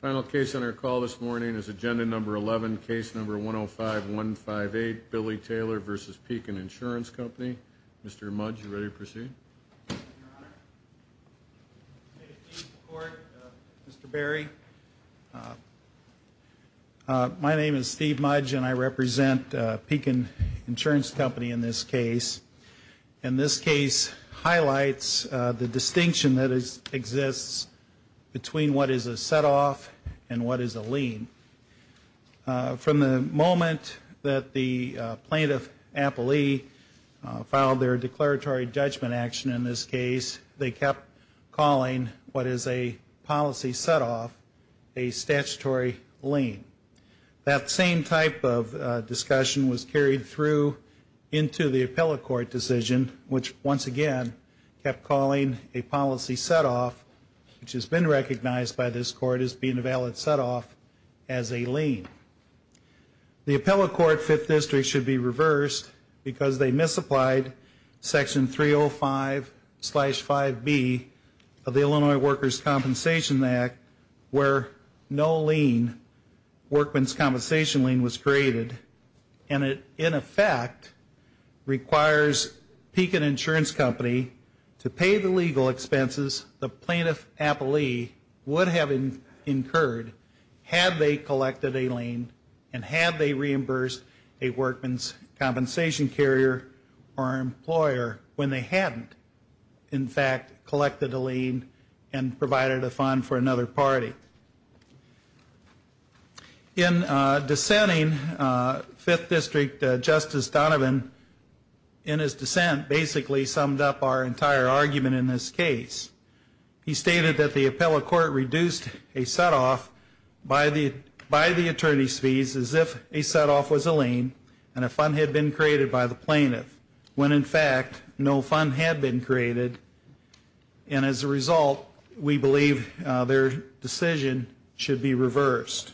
Final case on our call this morning is Agenda No. 11, Case No. 105-158, Billy Taylor v. Pekin Insurance Company. Mr. Mudge, are you ready to proceed? Your Honor, State Chief of Court, Mr. Berry, my name is Steve Mudge and I represent Pekin Insurance Company in this case. And this case highlights the distinction that exists between what is a set-off and what is a lien. From the moment that the plaintiff, Appley, filed their declaratory judgment action in this case, they kept calling what is a policy set-off a statutory lien. That same type of discussion was carried through into the Appellate Court decision, which once again kept calling a policy set-off, which has been recognized by this Court as being a valid set-off, as a lien. The Appellate Court Fifth District should be reversed because they misapplied Section 305-5B of the Illinois Workers' Compensation Act where no lien, workman's compensation lien, was created. And it, in effect, requires Pekin Insurance Company to pay the legal expenses the plaintiff, Appley, would have incurred had they collected a lien and had they reimbursed a workman's compensation carrier or employer when they hadn't, in fact, collected a lien and provided a fund for another party. In dissenting, Fifth District Justice Donovan, in his dissent, basically summed up our entire argument in this case. He stated that the Appellate Court reduced a set-off by the attorney's fees as if a set-off was a lien and a fund had been created by the plaintiff when, in fact, no fund had been created. And as a result, we believe their decision should be reversed.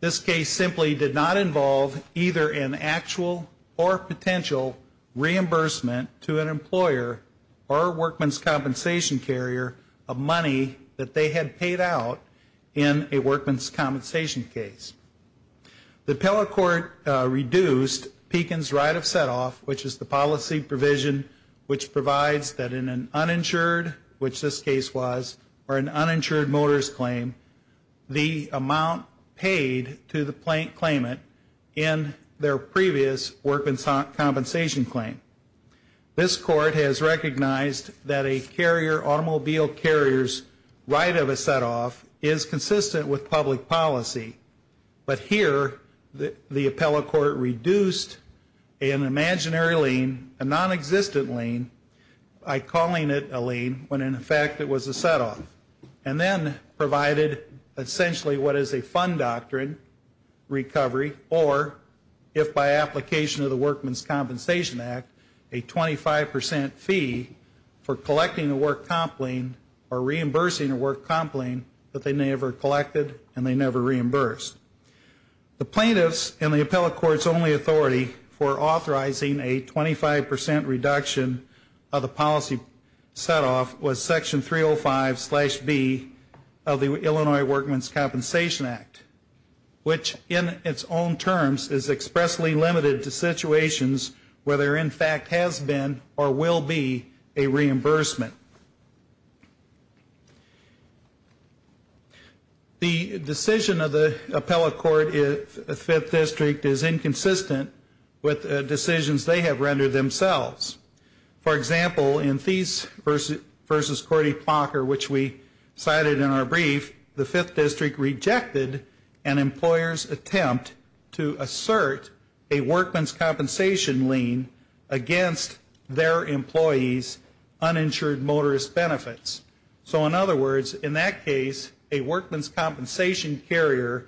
This case simply did not involve either an actual or potential reimbursement to an employer or a workman's compensation carrier of money that they had paid out in a workman's compensation case. The Appellate Court reduced Pekin's right of set-off, which is the policy provision which provides that in an uninsured, which this case was, or an uninsured motorist claim, the amount paid to the claimant in their previous workman's compensation claim. This Court has recognized that a carrier, automobile carrier's, right of a set-off is consistent with public policy. But here, the Appellate Court reduced an imaginary lien, a non-existent lien, by calling it a lien when, in fact, it was a set-off. And then provided essentially what is a fund doctrine recovery or, if by application of the Workman's Compensation Act, a 25% fee for collecting a work comp lien or reimbursing a work comp lien that they never collected and they never reimbursed. The plaintiff's and the Appellate Court's only authority for authorizing a 25% reduction of the policy set-off was Section 305 slash B of the Illinois Workman's Compensation Act, which in its own terms is expressly limited to situations where there, in fact, has been or will be a reimbursement. The decision of the Appellate Court in the Fifth District is inconsistent with decisions they have rendered themselves. For example, in Thies v. Cordy-Plonker, which we cited in our brief, the Fifth District rejected an employer's attempt to assert a workman's compensation lien against their employee's uninsured motorist benefits. So in other words, in that case, a workman's compensation carrier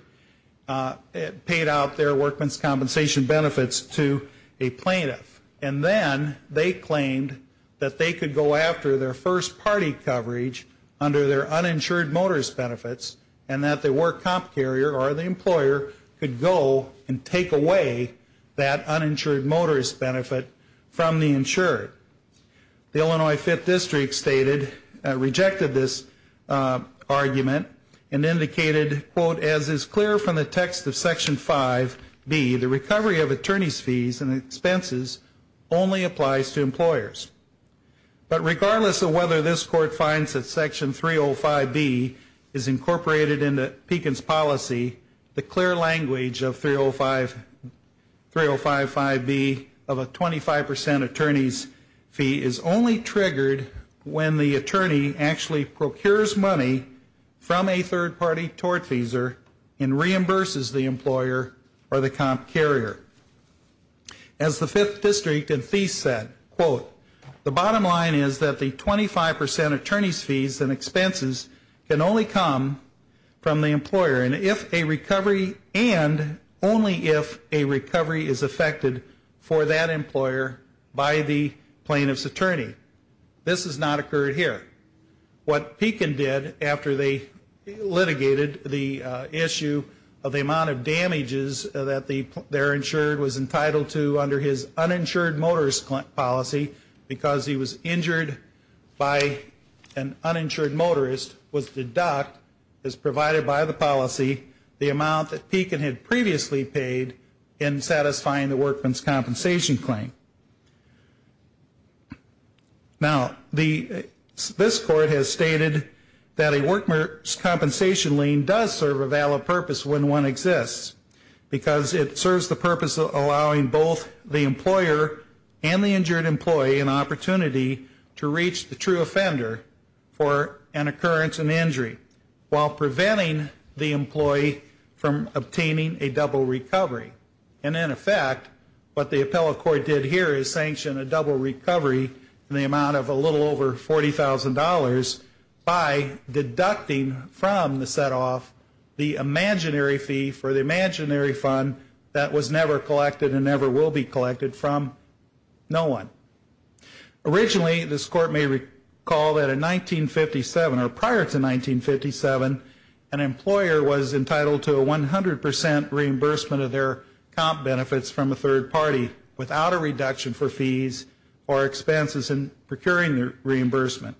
paid out their workman's compensation benefits to a plaintiff. And then they claimed that they could go after their first party coverage under their uninsured motorist benefits and that the work comp carrier or the employer could go and take away that uninsured motorist benefit from the insured. The Illinois Fifth District stated, rejected this argument and indicated, quote, as is clear from the text of Section 5B, the recovery of attorney's fees and expenses only applies to employers. But regardless of whether this Court finds that Section 305B is incorporated into Pekin's policy, the clear language of 305B of a 25% attorney's fee is only triggered when the attorney actually procures money from a third party tortfeasor and reimburses the employer or the comp carrier. As the Fifth District in Thies said, quote, the bottom line is that the 25% attorney's fees and expenses can only come from the employer and if a recovery and only if a recovery is affected for that employer by the plaintiff's attorney. This has not occurred here. What Pekin did after they litigated the issue of the amount of damages that their insured was entitled to under his uninsured motorist policy because he was injured by an uninsured motorist was deduct as provided by the policy the amount that Pekin had previously paid in satisfying the workman's compensation claim. Now, this Court has stated that a workman's compensation claim does serve a valid purpose when one exists because it serves the purpose of allowing both the employer and the injured employee an opportunity to reach the true offender for an occurrence and injury while preventing the employee from obtaining a double recovery. And in effect, what the appellate court did here is sanction a double recovery in the amount of a little over $40,000 by deducting from the set off the imaginary fee for the imaginary fund that was never collected and never will be collected from no one. Originally, this Court may recall that in 1957 or prior to 1957, an employer was entitled to a 100% reimbursement of their comp benefits from a third party without a reduction for fees or expenses in procuring their reimbursement.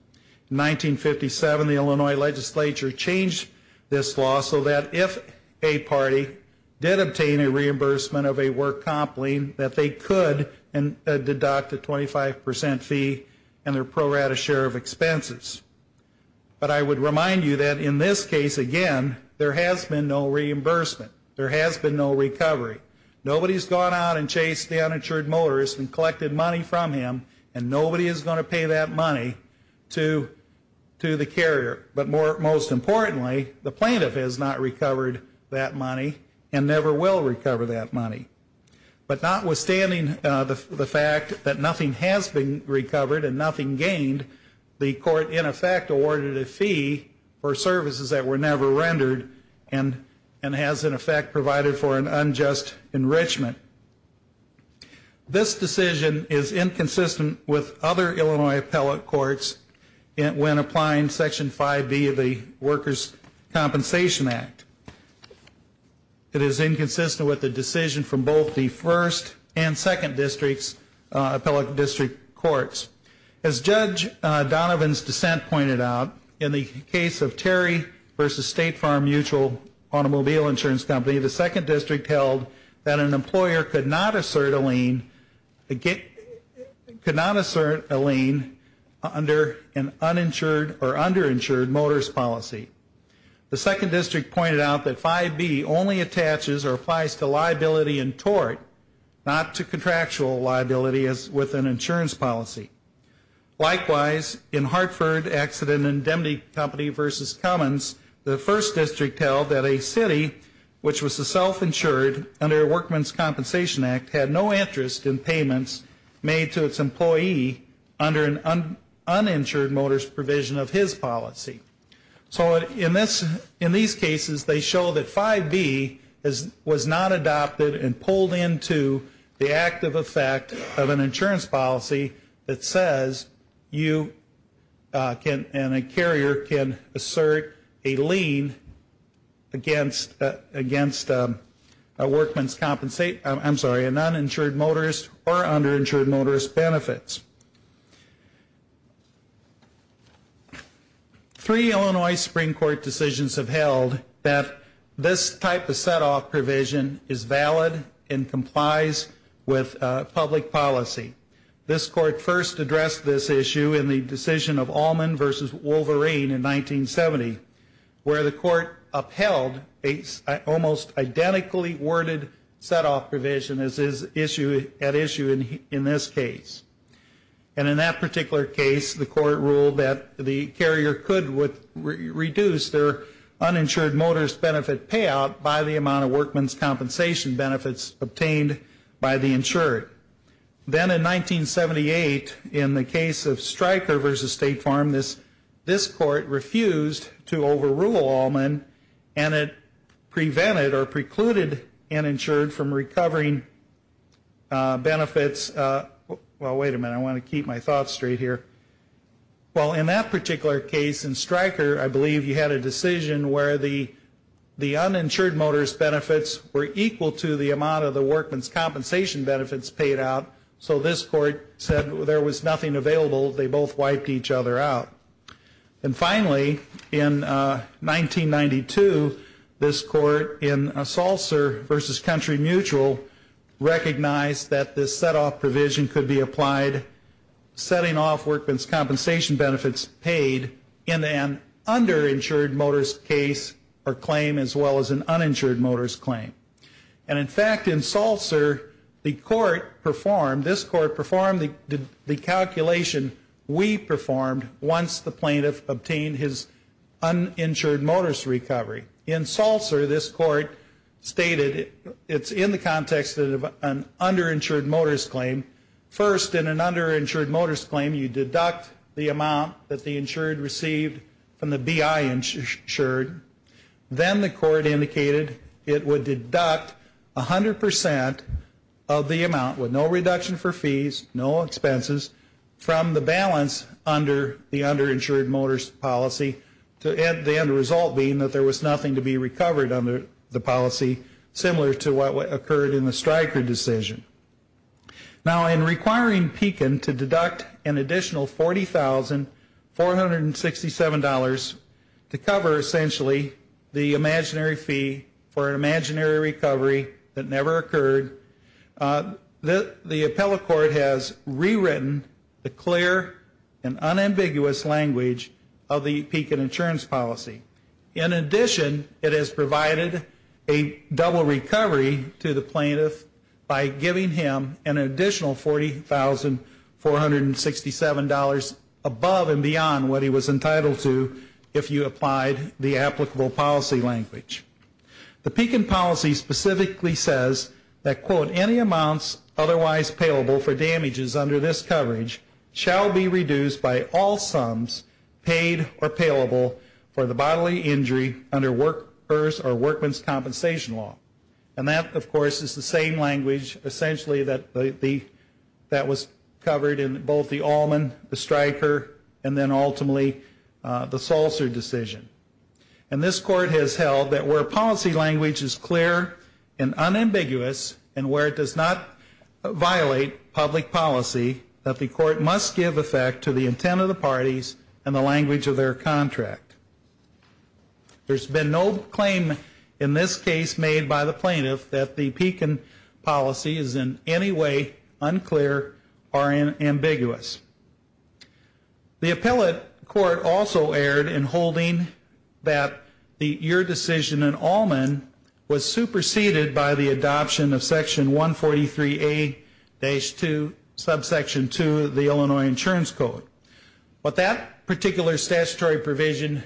In 1957, the Illinois legislature changed this law so that if a party did obtain a reimbursement of a work comp lien that they could deduct a 25% fee and their pro rata share of expenses. But I would remind you that in this case, again, there has been no reimbursement. There has been no recovery. Nobody's gone out and chased the uninsured motorist and collected money from him, and nobody is going to pay that money to the carrier. But most importantly, the plaintiff has not recovered that money and never will recover that money. But notwithstanding the fact that nothing has been recovered and nothing gained, the Court, in effect, awarded a fee for services that were never rendered and has, in effect, provided for an unjust enrichment. This decision is inconsistent with other Illinois appellate courts when applying Section 5B of the Workers' Compensation Act. It is inconsistent with the decision from both the 1st and 2nd District's appellate district courts. As Judge Donovan's dissent pointed out, in the case of Terry v. State Farm Mutual Automobile Insurance Company, the 2nd District held that an employer could not assert a lien under an uninsured or underinsured motorist policy. The 2nd District pointed out that 5B only attaches or applies to liability in tort, not to contractual liability as with an insurance policy. Likewise, in Hartford Accident and Indemnity Company v. Cummins, the 1st District held that a city, which was a self-insured under a Worker's Compensation Act, had no interest in payments made to its employee under an uninsured motorist provision of his policy. So in these cases, they show that 5B was not adopted and pulled into the active effect of an insurance policy that says you and a carrier can assert a lien against a noninsured motorist or underinsured motorist benefits. Three Illinois Supreme Court decisions have held that this type of set-off provision is valid and complies with public policy. This Court first addressed this issue in the decision of Allman v. Wolverine in 1970, where the Court upheld an almost identically worded set-off provision as at issue in this case. And in that particular case, the Court ruled that the carrier could reduce their uninsured motorist benefit payout by the amount of workman's compensation benefits obtained by the insured. Then in 1978, in the case of Stryker v. State Farm, this Court refused to overrule Allman and it prevented or precluded uninsured from recovering benefits. Well, wait a minute, I want to keep my thoughts straight here. Well, in that particular case in Stryker, I believe you had a decision where the uninsured motorist benefits were equal to the amount of the workman's compensation benefits paid out. So this Court said there was nothing available. They both wiped each other out. And finally, in 1992, this Court, in Salzer v. Country Mutual, recognized that this set-off provision could be applied, setting off workman's compensation benefits paid in an underinsured motorist case or claim as well as an uninsured motorist claim. And in fact, in Salzer, the Court performed, this Court performed the calculation we performed once the plaintiff obtained his uninsured motorist recovery. In Salzer, this Court stated it's in the context of an underinsured motorist claim. First, in an underinsured motorist claim, you deduct the amount that the insured received from the BI insured. Then the Court indicated it would deduct 100% of the amount with no reduction for fees, no expenses, from the balance under the underinsured motorist policy, the end result being that there was nothing to be recovered under the policy, similar to what occurred in the Stryker decision. Now, in requiring Pekin to deduct an additional $40,467 to cover, essentially, the imaginary fee for an imaginary recovery that never occurred, the appellate court has rewritten the clear and unambiguous language of the Pekin insurance policy. In addition, it has provided a double recovery to the plaintiff by giving him an additional $40,467 above and beyond what he was entitled to if you applied the applicable policy language. The Pekin policy specifically says that, quote, any amounts otherwise payable for damages under this coverage shall be reduced by all sums paid or payable for the bodily injury under workers' or workmen's compensation law. And that, of course, is the same language, essentially, that was covered in both the Allman, the Stryker, and then ultimately the Salzer decision. And this court has held that where policy language is clear and unambiguous and where it does not violate public policy, that the court must give effect to the intent of the parties and the language of their contract. There's been no claim in this case made by the plaintiff that the Pekin policy is in any way unclear or ambiguous. The appellate court also erred in holding that your decision in Allman was superseded by the adoption of Section 143A-2, Subsection 2 of the Illinois Insurance Code. What that particular statutory provision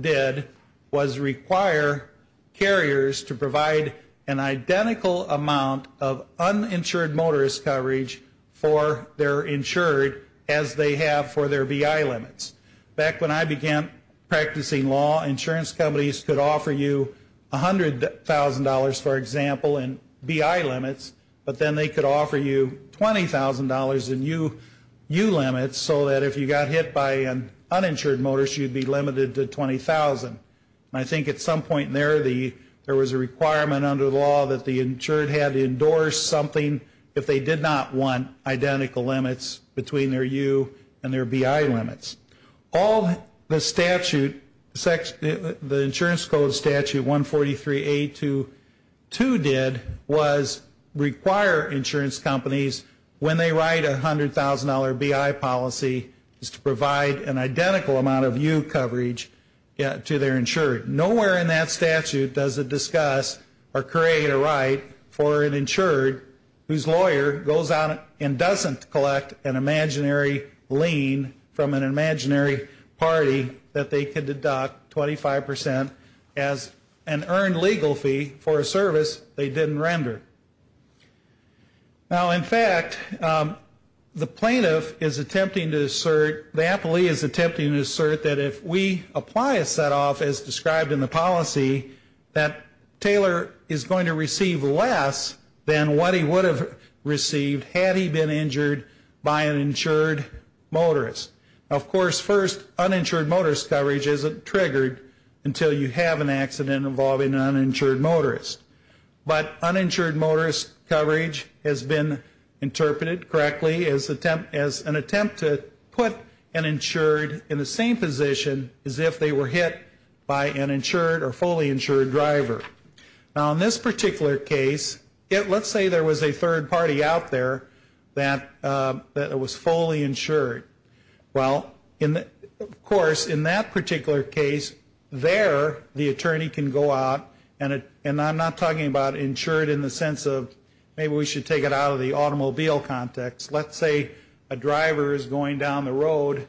did was require carriers to provide an identical amount of uninsured motorist coverage for their insured as they have for their BI limits. Back when I began practicing law, insurance companies could offer you $100,000, for example, in BI limits, but then they could offer you $20,000 in U limits so that if you got hit by an uninsured motorist, you'd be limited to $20,000. I think at some point there, there was a requirement under the law that the insured had to endorse something if they did not want identical limits between their U and their BI limits. All the statute, the Insurance Code Statute 143A-2 did was require insurance companies, when they write a $100,000 BI policy, is to provide an identical amount of U coverage to their insured. Nowhere in that statute does it discuss or create a right for an insured whose lawyer goes out and doesn't collect an imaginary lien from an imaginary party that they could deduct 25% as an earned legal fee for a service they didn't render. Now, in fact, the plaintiff is attempting to assert, the appellee is attempting to assert that if we apply a set-off as described in the policy, that Taylor is going to receive less than what he would have received had he been injured by an insured motorist. Of course, first, uninsured motorist coverage isn't triggered until you have an accident involving an uninsured motorist. But uninsured motorist coverage has been interpreted correctly as an attempt to put an insured in the same position as if they were hit by an insured or fully insured driver. Now, in this particular case, let's say there was a third party out there that was fully insured. Well, of course, in that particular case, there the attorney can go out, and I'm not talking about insured in the sense of maybe we should take it out of the automobile context. Let's say a driver is going down the road,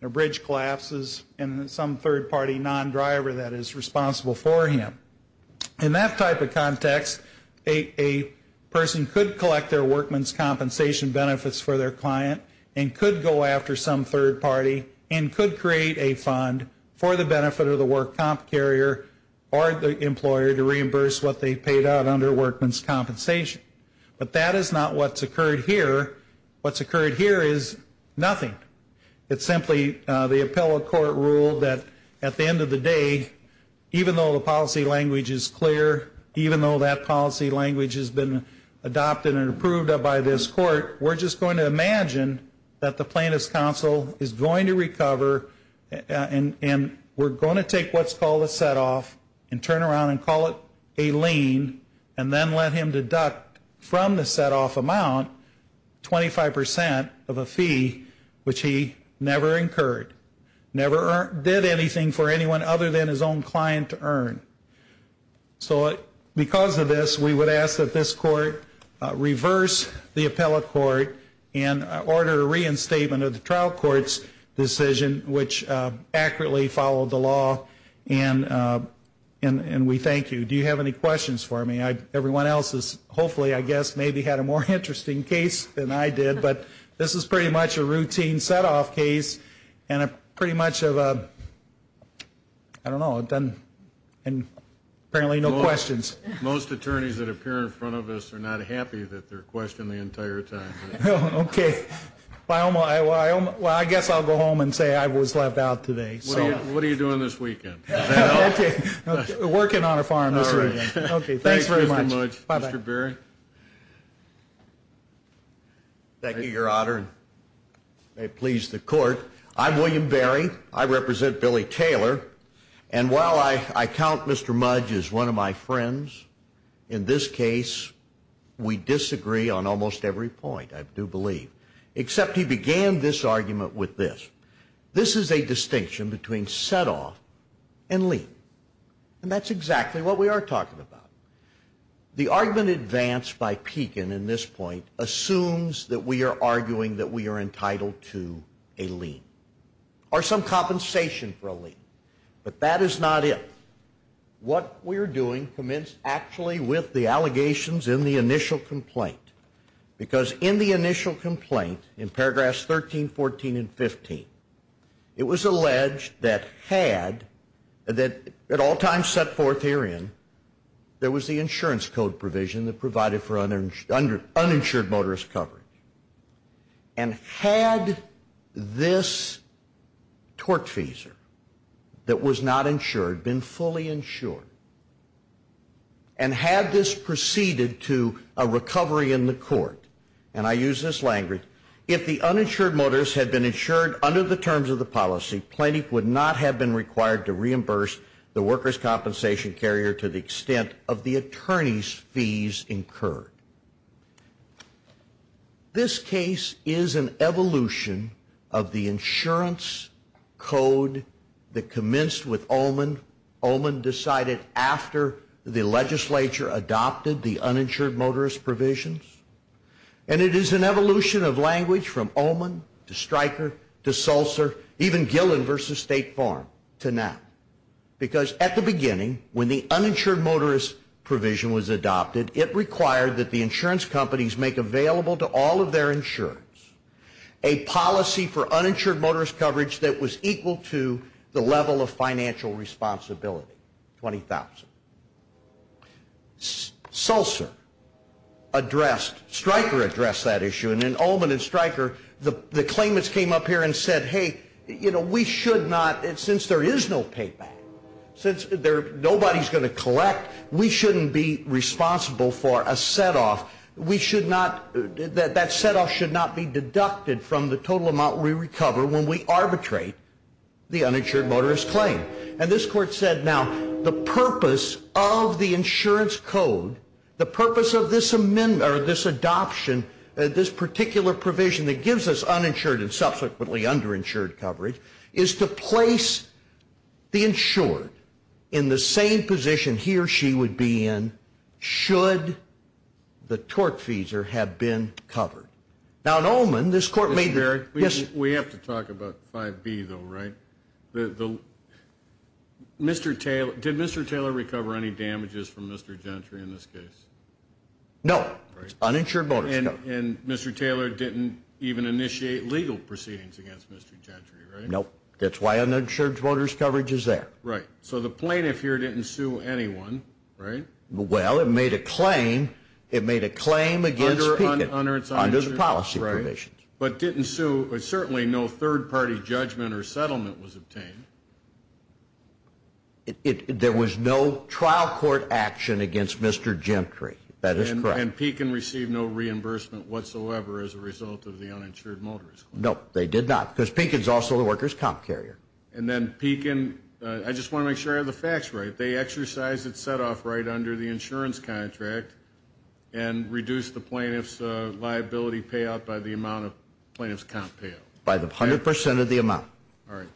a bridge collapses, and some third party non-driver that is responsible for him. In that type of context, a person could collect their workman's compensation benefits for their client and could go after some third party and could create a fund for the benefit of the work comp carrier or the employer to reimburse what they paid out under workman's compensation. But that is not what's occurred here. What's occurred here is nothing. It's simply the appellate court rule that at the end of the day, even though the policy language is clear, even though that policy language has been adopted and approved by this court, we're just going to imagine that the plaintiff's counsel is going to recover and we're going to take what's called a set-off and turn around and call it a lien and then let him deduct from the set-off amount 25% of a fee, which he never incurred, never did anything for anyone other than his own client to earn. So because of this, we would ask that this court reverse the appellate court and order a reinstatement of the trial court's decision, which accurately followed the law, and we thank you. Do you have any questions for me? Everyone else has hopefully, I guess, maybe had a more interesting case than I did, but this is pretty much a routine set-off case and a pretty much of a, I don't know, and apparently no questions. Most attorneys that appear in front of us are not happy that they're questioned the entire time. Okay. Well, I guess I'll go home and say I was left out today. What are you doing this weekend? Working on a farm this weekend. Thanks very much. Mr. Berry? Thank you, Your Honor. I please the court. I'm William Berry. I represent Billy Taylor, and while I count Mr. Mudge as one of my friends, in this case we disagree on almost every point, I do believe, except he began this argument with this. This is a distinction between set-off and lien, and that's exactly what we are talking about. The argument advanced by Pekin in this point assumes that we are arguing that we are entitled to a lien or some compensation for a lien, but that is not it. What we are doing commenced actually with the allegations in the initial complaint, because in the initial complaint, in paragraphs 13, 14, and 15, it was alleged that had, that at all times set forth herein, there was the insurance code provision that provided for uninsured motorist coverage, and had this torque feeser that was not insured been fully insured, and had this proceeded to a recovery in the court, and I use this language, if the uninsured motorist had been insured under the terms of the policy, Plaintiff would not have been required to reimburse the workers' compensation carrier to the extent of the attorney's fees incurred. This case is an evolution of the insurance code that commenced with Oman. Oman decided after the legislature adopted the uninsured motorist provisions, and it is an evolution of language from Oman to Stryker to Sulzer, even Gillen v. State Farm to now, because at the beginning, when the uninsured motorist provision was adopted, it required that the insurance companies make available to all of their insurance a policy for uninsured motorist coverage that was equal to the level of financial responsibility, 20,000. Sulzer addressed, Stryker addressed that issue, and then Oman and Stryker, the claimants came up here and said, hey, you know, we should not, since there is no payback, since nobody's going to collect, we shouldn't be responsible for a setoff. We should not, that setoff should not be deducted from the total amount we recover when we arbitrate the uninsured motorist claim. And this court said, now, the purpose of the insurance code, the purpose of this adoption, this particular provision that gives us uninsured and subsequently underinsured coverage, is to place the insured in the same position he or she would be in should the tortfeasor have been covered. Now, in Oman, this court made the, yes? We have to talk about 5B, though, right? Mr. Taylor, did Mr. Taylor recover any damages from Mr. Gentry in this case? No. Uninsured motorist coverage. And Mr. Taylor didn't even initiate legal proceedings against Mr. Gentry, right? No. That's why uninsured motorist coverage is there. Right. So the plaintiff here didn't sue anyone, right? Well, it made a claim. It made a claim against Pekin under the policy provisions. But didn't sue, certainly no third-party judgment or settlement was obtained. There was no trial court action against Mr. Gentry. That is correct. And Pekin received no reimbursement whatsoever as a result of the uninsured motorist claim. No, they did not, because Pekin is also the workers' comp carrier. And then Pekin, I just want to make sure I have the facts right, they exercised its set-off right under the insurance contract and reduced the plaintiff's liability payout by the amount of plaintiff's comp payout. By 100% of the amount. All right.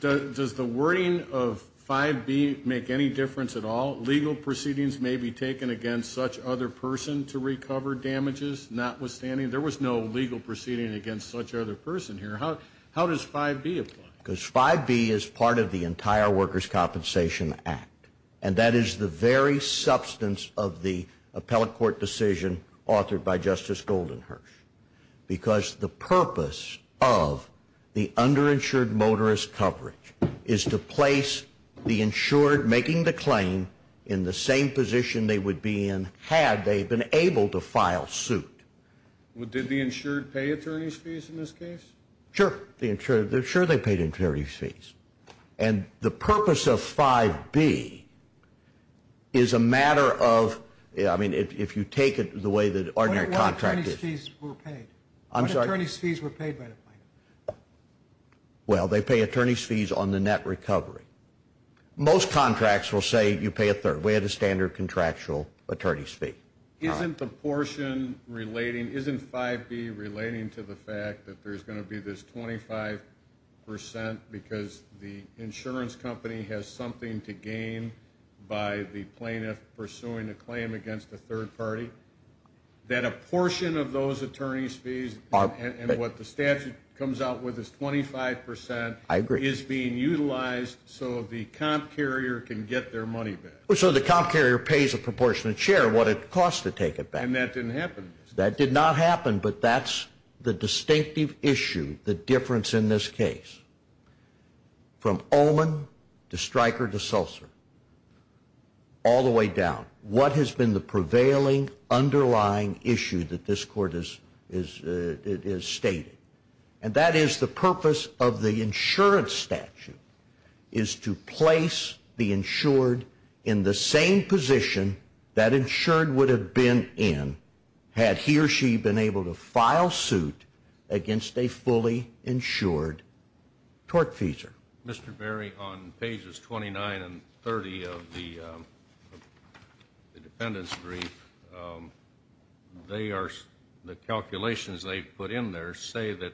Does the wording of 5B make any difference at all? Legal proceedings may be taken against such other person to recover damages notwithstanding? There was no legal proceeding against such other person here. How does 5B apply? Because 5B is part of the entire Workers' Compensation Act, and that is the very substance of the appellate court decision authored by Justice Goldenhirsch, because the purpose of the underinsured motorist coverage is to place the insured making the claim in the same position they would be in had they been able to file suit. Did the insured pay attorney's fees in this case? Sure. Sure, they paid attorney's fees. And the purpose of 5B is a matter of, I mean, if you take it the way the ordinary contract is. What attorney's fees were paid? I'm sorry? What attorney's fees were paid by the plaintiff? Well, they pay attorney's fees on the net recovery. Most contracts will say you pay a third. We had a standard contractual attorney's fee. Isn't the portion relating, isn't 5B relating to the fact that there's going to be this 25% because the insurance company has something to gain by the plaintiff pursuing a claim against a third party? That a portion of those attorney's fees and what the statute comes out with is 25% is being utilized so the comp carrier can get their money back. So the comp carrier pays a proportionate share of what it costs to take it back. And that didn't happen. That did not happen, but that's the distinctive issue, the difference in this case. From Olin to Stryker to Sulzer, all the way down. What has been the prevailing underlying issue that this court is stating? And that is the purpose of the insurance statute is to place the insured in the same position that insured would have been in had he or she been able to file suit against a fully insured tortfeasor. Mr. Berry, on pages 29 and 30 of the defendant's brief, the calculations they put in there say that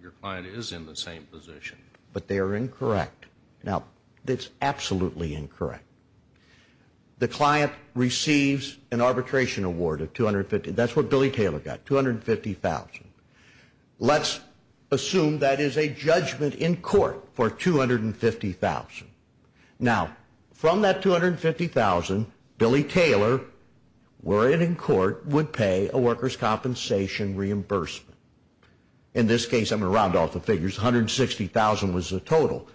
your client is in the same position. But they are incorrect. Now, it's absolutely incorrect. The client receives an arbitration award of 250. That's what Billy Taylor got, $250,000. Let's assume that is a judgment in court for $250,000. Now, from that $250,000, Billy Taylor, were it in court, would pay a workers' compensation reimbursement. In this case, I'm going to round off the figures, $160,000 was the total.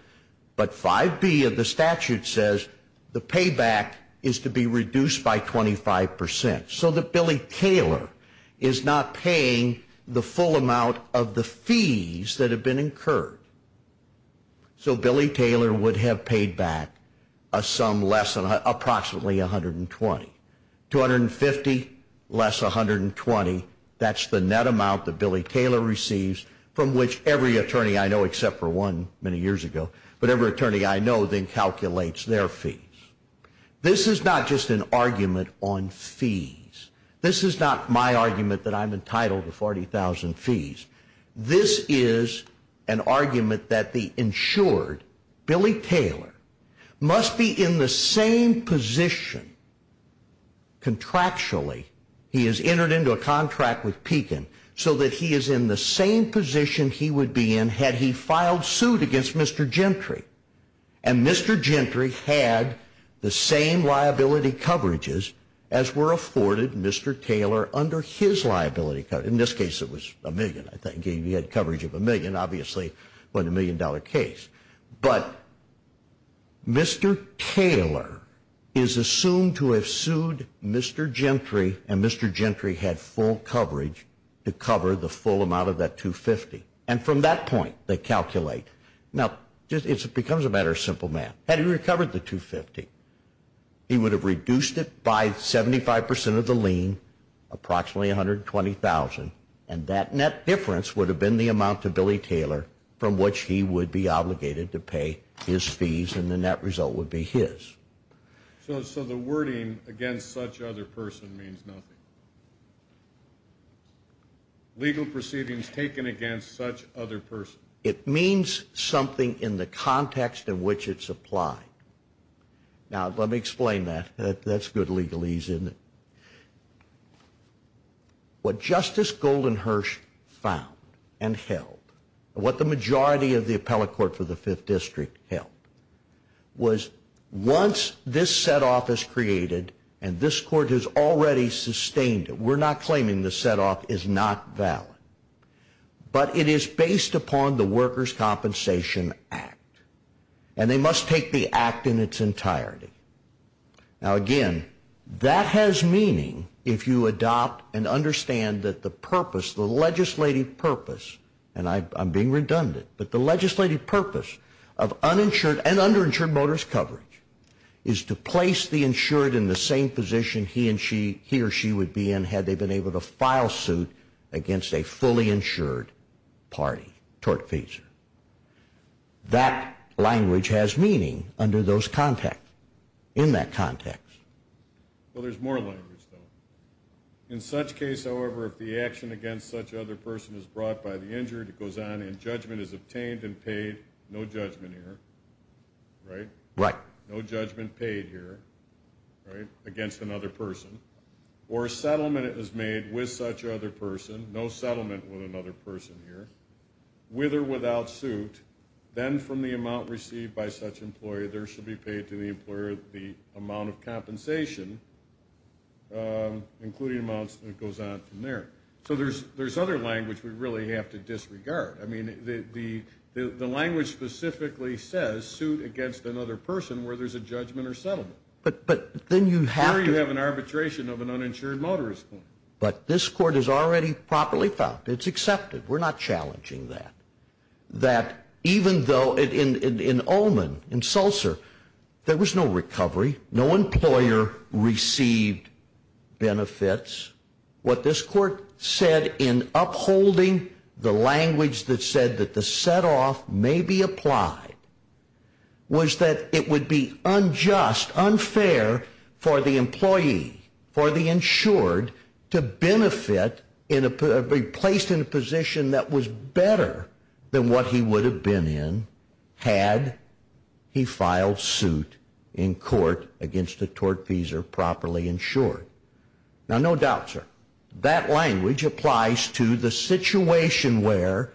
But 5B of the statute says the payback is to be reduced by 25%. So that Billy Taylor is not paying the full amount of the fees that have been incurred. So Billy Taylor would have paid back a sum less than approximately $120,000. $250,000 less $120,000, that's the net amount that Billy Taylor receives from which every attorney I know, except for one many years ago, but every attorney I know then calculates their fees. This is not just an argument on fees. This is not my argument that I'm entitled to $40,000 fees. This is an argument that the insured, Billy Taylor, must be in the same position contractually, he has entered into a contract with Pekin, so that he is in the same position he would be in had he filed suit against Mr. Gentry. And Mr. Gentry had the same liability coverages as were afforded Mr. Taylor under his liability coverage. In this case, it was a million. He had coverage of a million, obviously, but a million-dollar case. But Mr. Taylor is assumed to have sued Mr. Gentry, and Mr. Gentry had full coverage to cover the full amount of that $250,000. And from that point, they calculate. Now, it becomes a matter of simple math. Had he recovered the $250,000, he would have reduced it by 75% of the lien, approximately $120,000, and that net difference would have been the amount to Billy Taylor from which he would be obligated to pay his fees, and the net result would be his. So the wording, against such other person, means nothing? Legal proceedings taken against such other person. It means something in the context in which it's applied. Now, let me explain that. That's good legalese, isn't it? What Justice Goldenhirsch found and held, what the majority of the appellate court for the Fifth District held, was once this setoff is created and this court has already sustained it, we're not claiming the setoff is not valid, but it is based upon the Workers' Compensation Act, and they must take the act in its entirety. Now, again, that has meaning if you adopt and understand that the purpose, the legislative purpose, and I'm being redundant, but the legislative purpose of uninsured and underinsured motorist coverage is to place the insured in the same position he or she would be in had they been able to file suit against a fully insured party, tortfeasor. That language has meaning under those contexts, in that context. Well, there's more language, though. In such case, however, if the action against such other person is brought by the injured, it goes on and judgment is obtained and paid, no judgment here, right? Right. No judgment paid here, right, against another person. Or a settlement is made with such other person, no settlement with another person here, with or without suit, then from the amount received by such employee, there shall be paid to the employer the amount of compensation, including amounts that goes on from there. So there's other language we really have to disregard. I mean, the language specifically says, suit against another person where there's a judgment or settlement. Here you have an arbitration of an uninsured motorist. But this court has already properly found. It's accepted. We're not challenging that. That even though in Ullman, in Seltzer, there was no recovery. No employer received benefits. What this court said in upholding the language that said that the setoff may be applied was that it would be unjust, unfair for the employee, for the insured, to be placed in a position that was better than what he would have been in had he filed suit in court against a tortfeasor properly insured. Now, no doubt, sir, that language applies to the situation where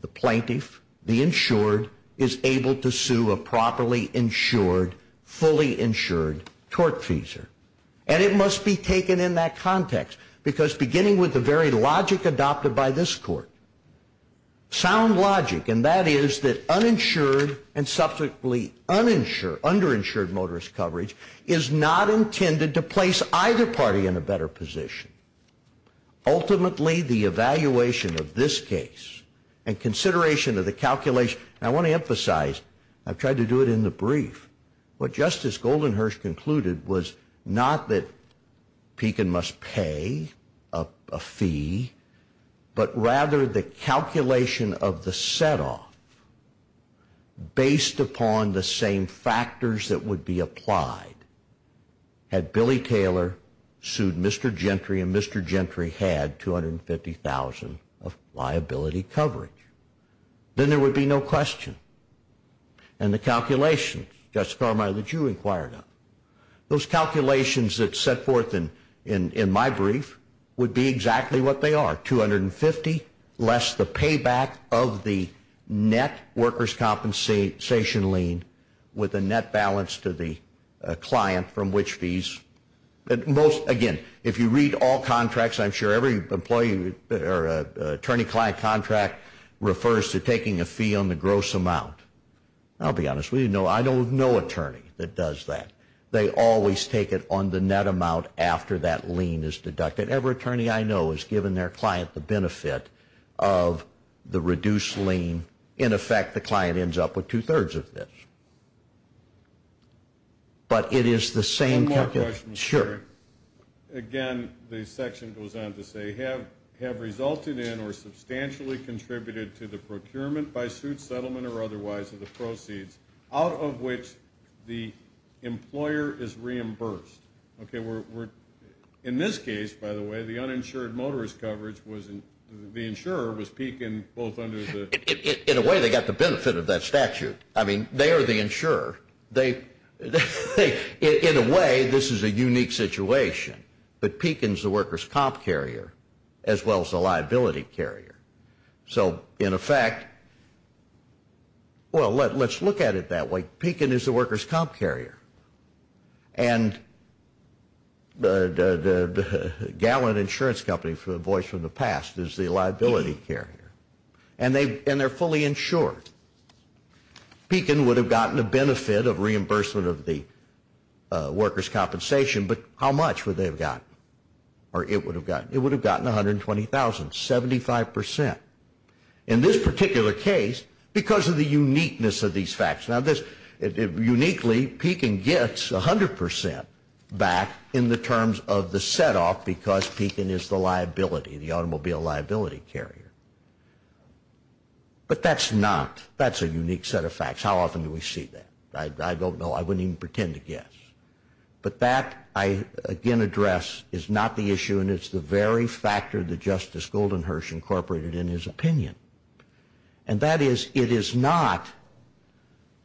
the plaintiff, the insured, is able to sue a properly insured, fully insured tortfeasor. And it must be taken in that context, because beginning with the very logic adopted by this court, sound logic, and that is that uninsured and subsequently underinsured motorist coverage is not intended to place either party in a better position. Ultimately, the evaluation of this case and consideration of the calculation, and I want to emphasize, I've tried to do it in the brief, what Justice Goldenhirsch concluded was not that Pekin must pay a fee, but rather the calculation of the setoff based upon the same factors that would be applied had Billy Taylor sued Mr. Gentry and Mr. Gentry had $250,000 of liability coverage. Then there would be no question. And the calculations, Justice Carmichael, that you inquired on, those calculations that set forth in my brief would be exactly what they are, $250,000 less the payback of the net workers' compensation lien with a net balance to the client from which fees. Again, if you read all contracts, I'm sure every attorney-client contract refers to taking a fee on the gross amount. I'll be honest with you, I don't know an attorney that does that. They always take it on the net amount after that lien is deducted. Every attorney I know has given their client the benefit of the reduced lien. In effect, the client ends up with two-thirds of this. But it is the same calculation. One more question. Sure. Again, the section goes on to say, have resulted in or substantially contributed to the procurement by suit, settlement, or otherwise of the proceeds out of which the employer is reimbursed? In this case, by the way, the uninsured motorist coverage, the insurer was Pekin both under the. In a way, they got the benefit of that statute. I mean, they are the insurer. In a way, this is a unique situation. But Pekin is the workers' comp carrier as well as the liability carrier. So, in effect, well, let's look at it that way. Pekin is the workers' comp carrier. And the Gallant Insurance Company, a voice from the past, is the liability carrier. And they're fully insured. Pekin would have gotten the benefit of reimbursement of the workers' compensation, but how much would they have gotten? Or it would have gotten? It would have gotten $120,000, 75%. In this particular case, because of the uniqueness of these facts. Now, uniquely, Pekin gets 100% back in the terms of the set-off because Pekin is the liability, the automobile liability carrier. But that's not. That's a unique set of facts. How often do we see that? I don't know. I wouldn't even pretend to guess. But that, I again address, is not the issue, and it's the very factor that Justice Goldenherz incorporated in his opinion. And that is, it is not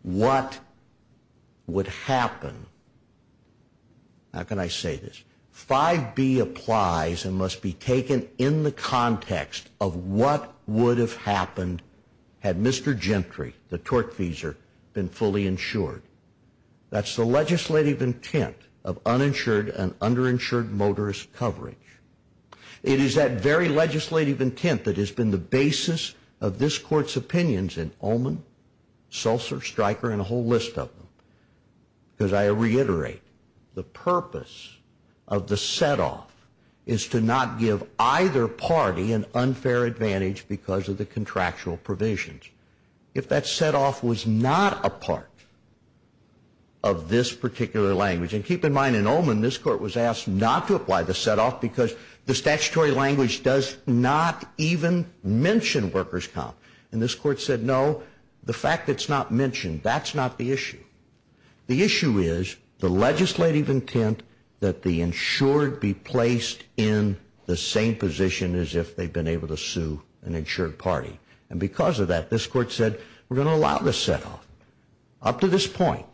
what would happen. How can I say this? 5B applies and must be taken in the context of what would have happened had Mr. Gentry, the tortfeasor, been fully insured. That's the legislative intent of uninsured and underinsured motorist coverage. It is that very legislative intent that has been the basis of this Court's opinions in Ullman, Sulzer, Stryker, and a whole list of them. Because I reiterate, the purpose of the set-off is to not give either party an unfair advantage because of the contractual provisions. If that set-off was not a part of this particular language, and keep in mind in Ullman, this Court was asked not to apply the set-off because the statutory language does not even mention workers' comp. And this Court said, no, the fact that it's not mentioned, that's not the issue. The issue is the legislative intent that the insured be placed in the same position as if they've been able to sue an insured party. And because of that, this Court said, we're going to allow the set-off up to this point.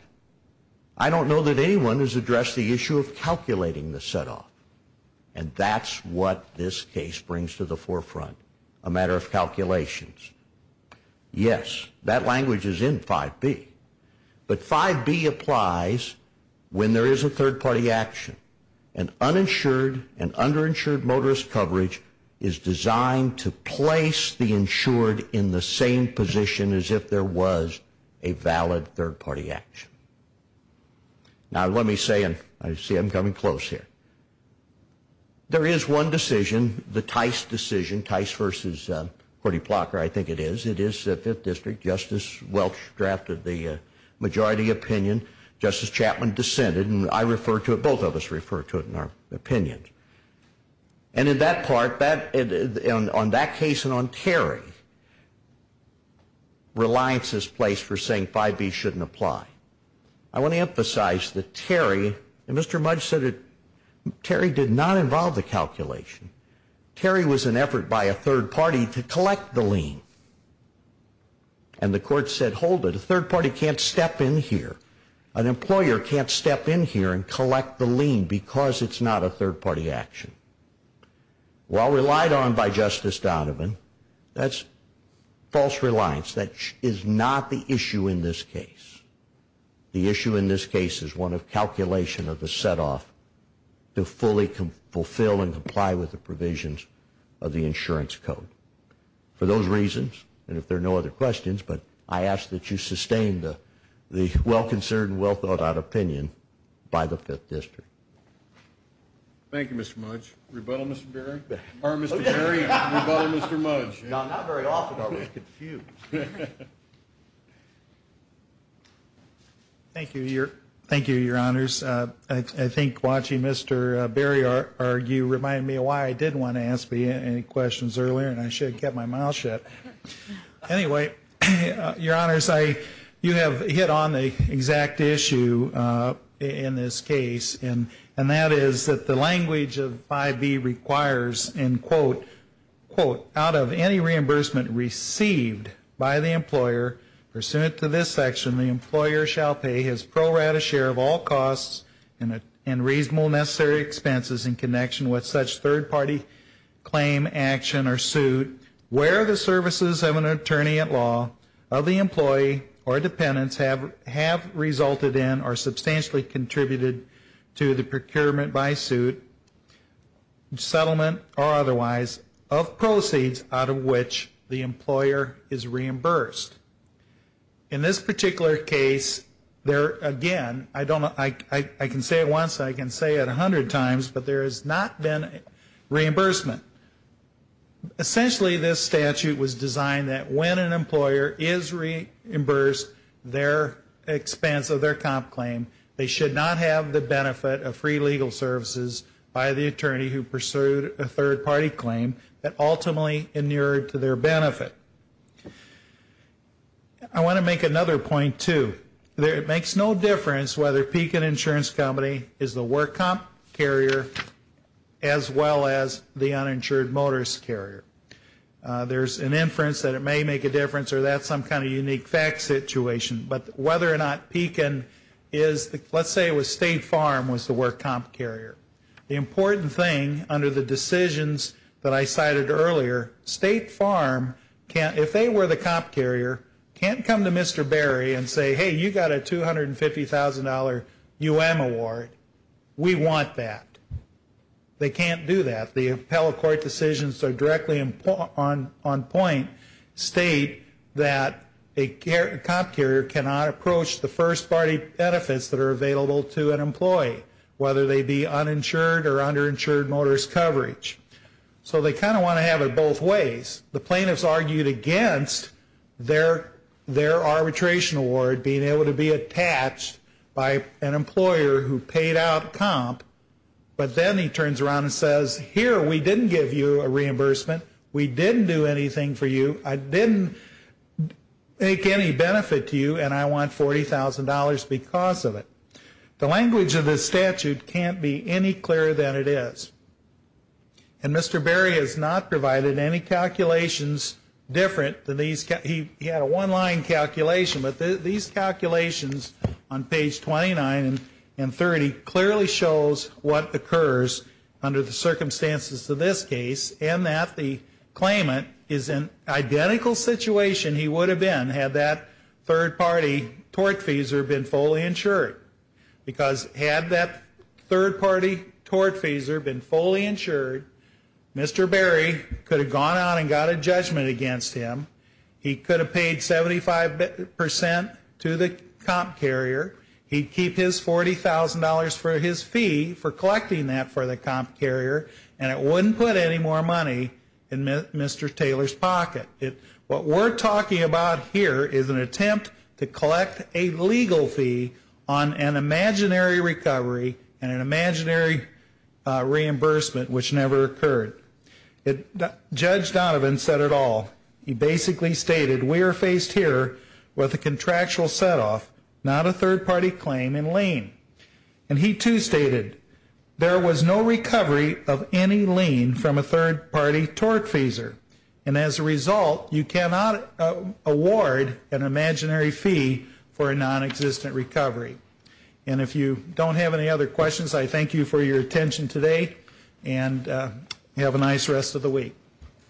I don't know that anyone has addressed the issue of calculating the set-off. And that's what this case brings to the forefront, a matter of calculations. Yes, that language is in 5B. But 5B applies when there is a third-party action. An uninsured and underinsured motorist coverage is designed to place the insured in the same position as if there was a valid third-party action. Now, let me say, and I see I'm coming close here. There is one decision, the Tice decision, Tice v. Cody Plotker, I think it is. It is the 5th District. Justice Welch drafted the majority opinion. Justice Chapman dissented. And I refer to it, both of us refer to it in our opinions. And in that part, on that case and on Terry, reliance is placed for saying 5B shouldn't apply. I want to emphasize that Terry, and Mr. Mudge said it, Terry did not involve the calculation. Terry was an effort by a third party to collect the lien. And the Court said, hold it. A third party can't step in here. An employer can't step in here and collect the lien because it's not a third-party action. While relied on by Justice Donovan, that's false reliance. That is not the issue in this case. The issue in this case is one of calculation of the set-off to fully fulfill and comply with the provisions of the insurance code. For those reasons, and if there are no other questions, but I ask that you sustain the well-concerned, well-thought-out opinion by the 5th District. Thank you, Mr. Mudge. Rebuttal, Mr. Berry? Or Mr. Terry? Rebuttal, Mr. Mudge? Not very often, I was confused. Thank you, Your Honors. I think watching Mr. Berry argue reminded me of why I did want to ask him any questions earlier, and I should have kept my mouth shut. Anyway, Your Honors, you have hit on the exact issue in this case, and that is that the language of 5B requires, and quote, quote, out of any reimbursement received by the employer pursuant to this section, the employer shall pay his pro rata share of all costs and reasonable necessary expenses in connection with such third-party claim, action, or suit where the services of an attorney at law of the employee or dependents have resulted in or substantially contributed to the procurement by suit, settlement, or otherwise, of proceeds out of which the employer is reimbursed. In this particular case, again, I can say it once, I can say it 100 times, but there has not been reimbursement. Essentially, this statute was designed that when an employer is reimbursed their expense of their comp claim, they should not have the benefit of free legal services by the attorney who pursued a third-party claim that ultimately inured to their benefit. I want to make another point, too. It makes no difference whether Pekin Insurance Company is the work comp carrier as well as the uninsured motorist carrier. There's an inference that it may make a difference or that's some kind of unique fact situation, but whether or not Pekin is, let's say it was State Farm was the work comp carrier. The important thing under the decisions that I cited earlier, State Farm, if they were the comp carrier, can't come to Mr. Berry and say, hey, you got a $250,000 UM award. We want that. They can't do that. The appellate court decisions directly on point state that a comp carrier cannot approach the first-party benefits that are available to an employee, whether they be uninsured or underinsured motorist coverage. So they kind of want to have it both ways. The plaintiffs argued against their arbitration award being able to be attached by an employer who paid out comp, but then he turns around and says, here, we didn't give you a reimbursement. We didn't do anything for you. I didn't make any benefit to you, and I want $40,000 because of it. The language of this statute can't be any clearer than it is. And Mr. Berry has not provided any calculations different than these. He had a one-line calculation. But these calculations on page 29 and 30 clearly shows what occurs under the circumstances of this case and that the claimant is in identical situation he would have been had that third-party tortfeasor been fully insured. Because had that third-party tortfeasor been fully insured, Mr. Berry could have gone on and got a judgment against him. He could have paid 75% to the comp carrier. He'd keep his $40,000 for his fee for collecting that for the comp carrier, and it wouldn't put any more money in Mr. Taylor's pocket. What we're talking about here is an attempt to collect a legal fee on an imaginary recovery and an imaginary reimbursement which never occurred. Judge Donovan said it all. He basically stated we are faced here with a contractual setoff, not a third-party claim in lien. And he, too, stated there was no recovery of any lien from a third-party tortfeasor. And as a result, you cannot award an imaginary fee for a nonexistent recovery. And if you don't have any other questions, I thank you for your attention today and have a nice rest of the week.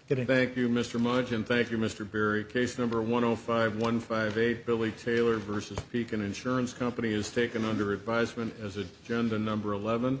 Thank you, Mr. Mudge, and thank you, Mr. Berry. Case number 105158, Billy Taylor v. Pekin Insurance Company, is taken under advisement as agenda number 11.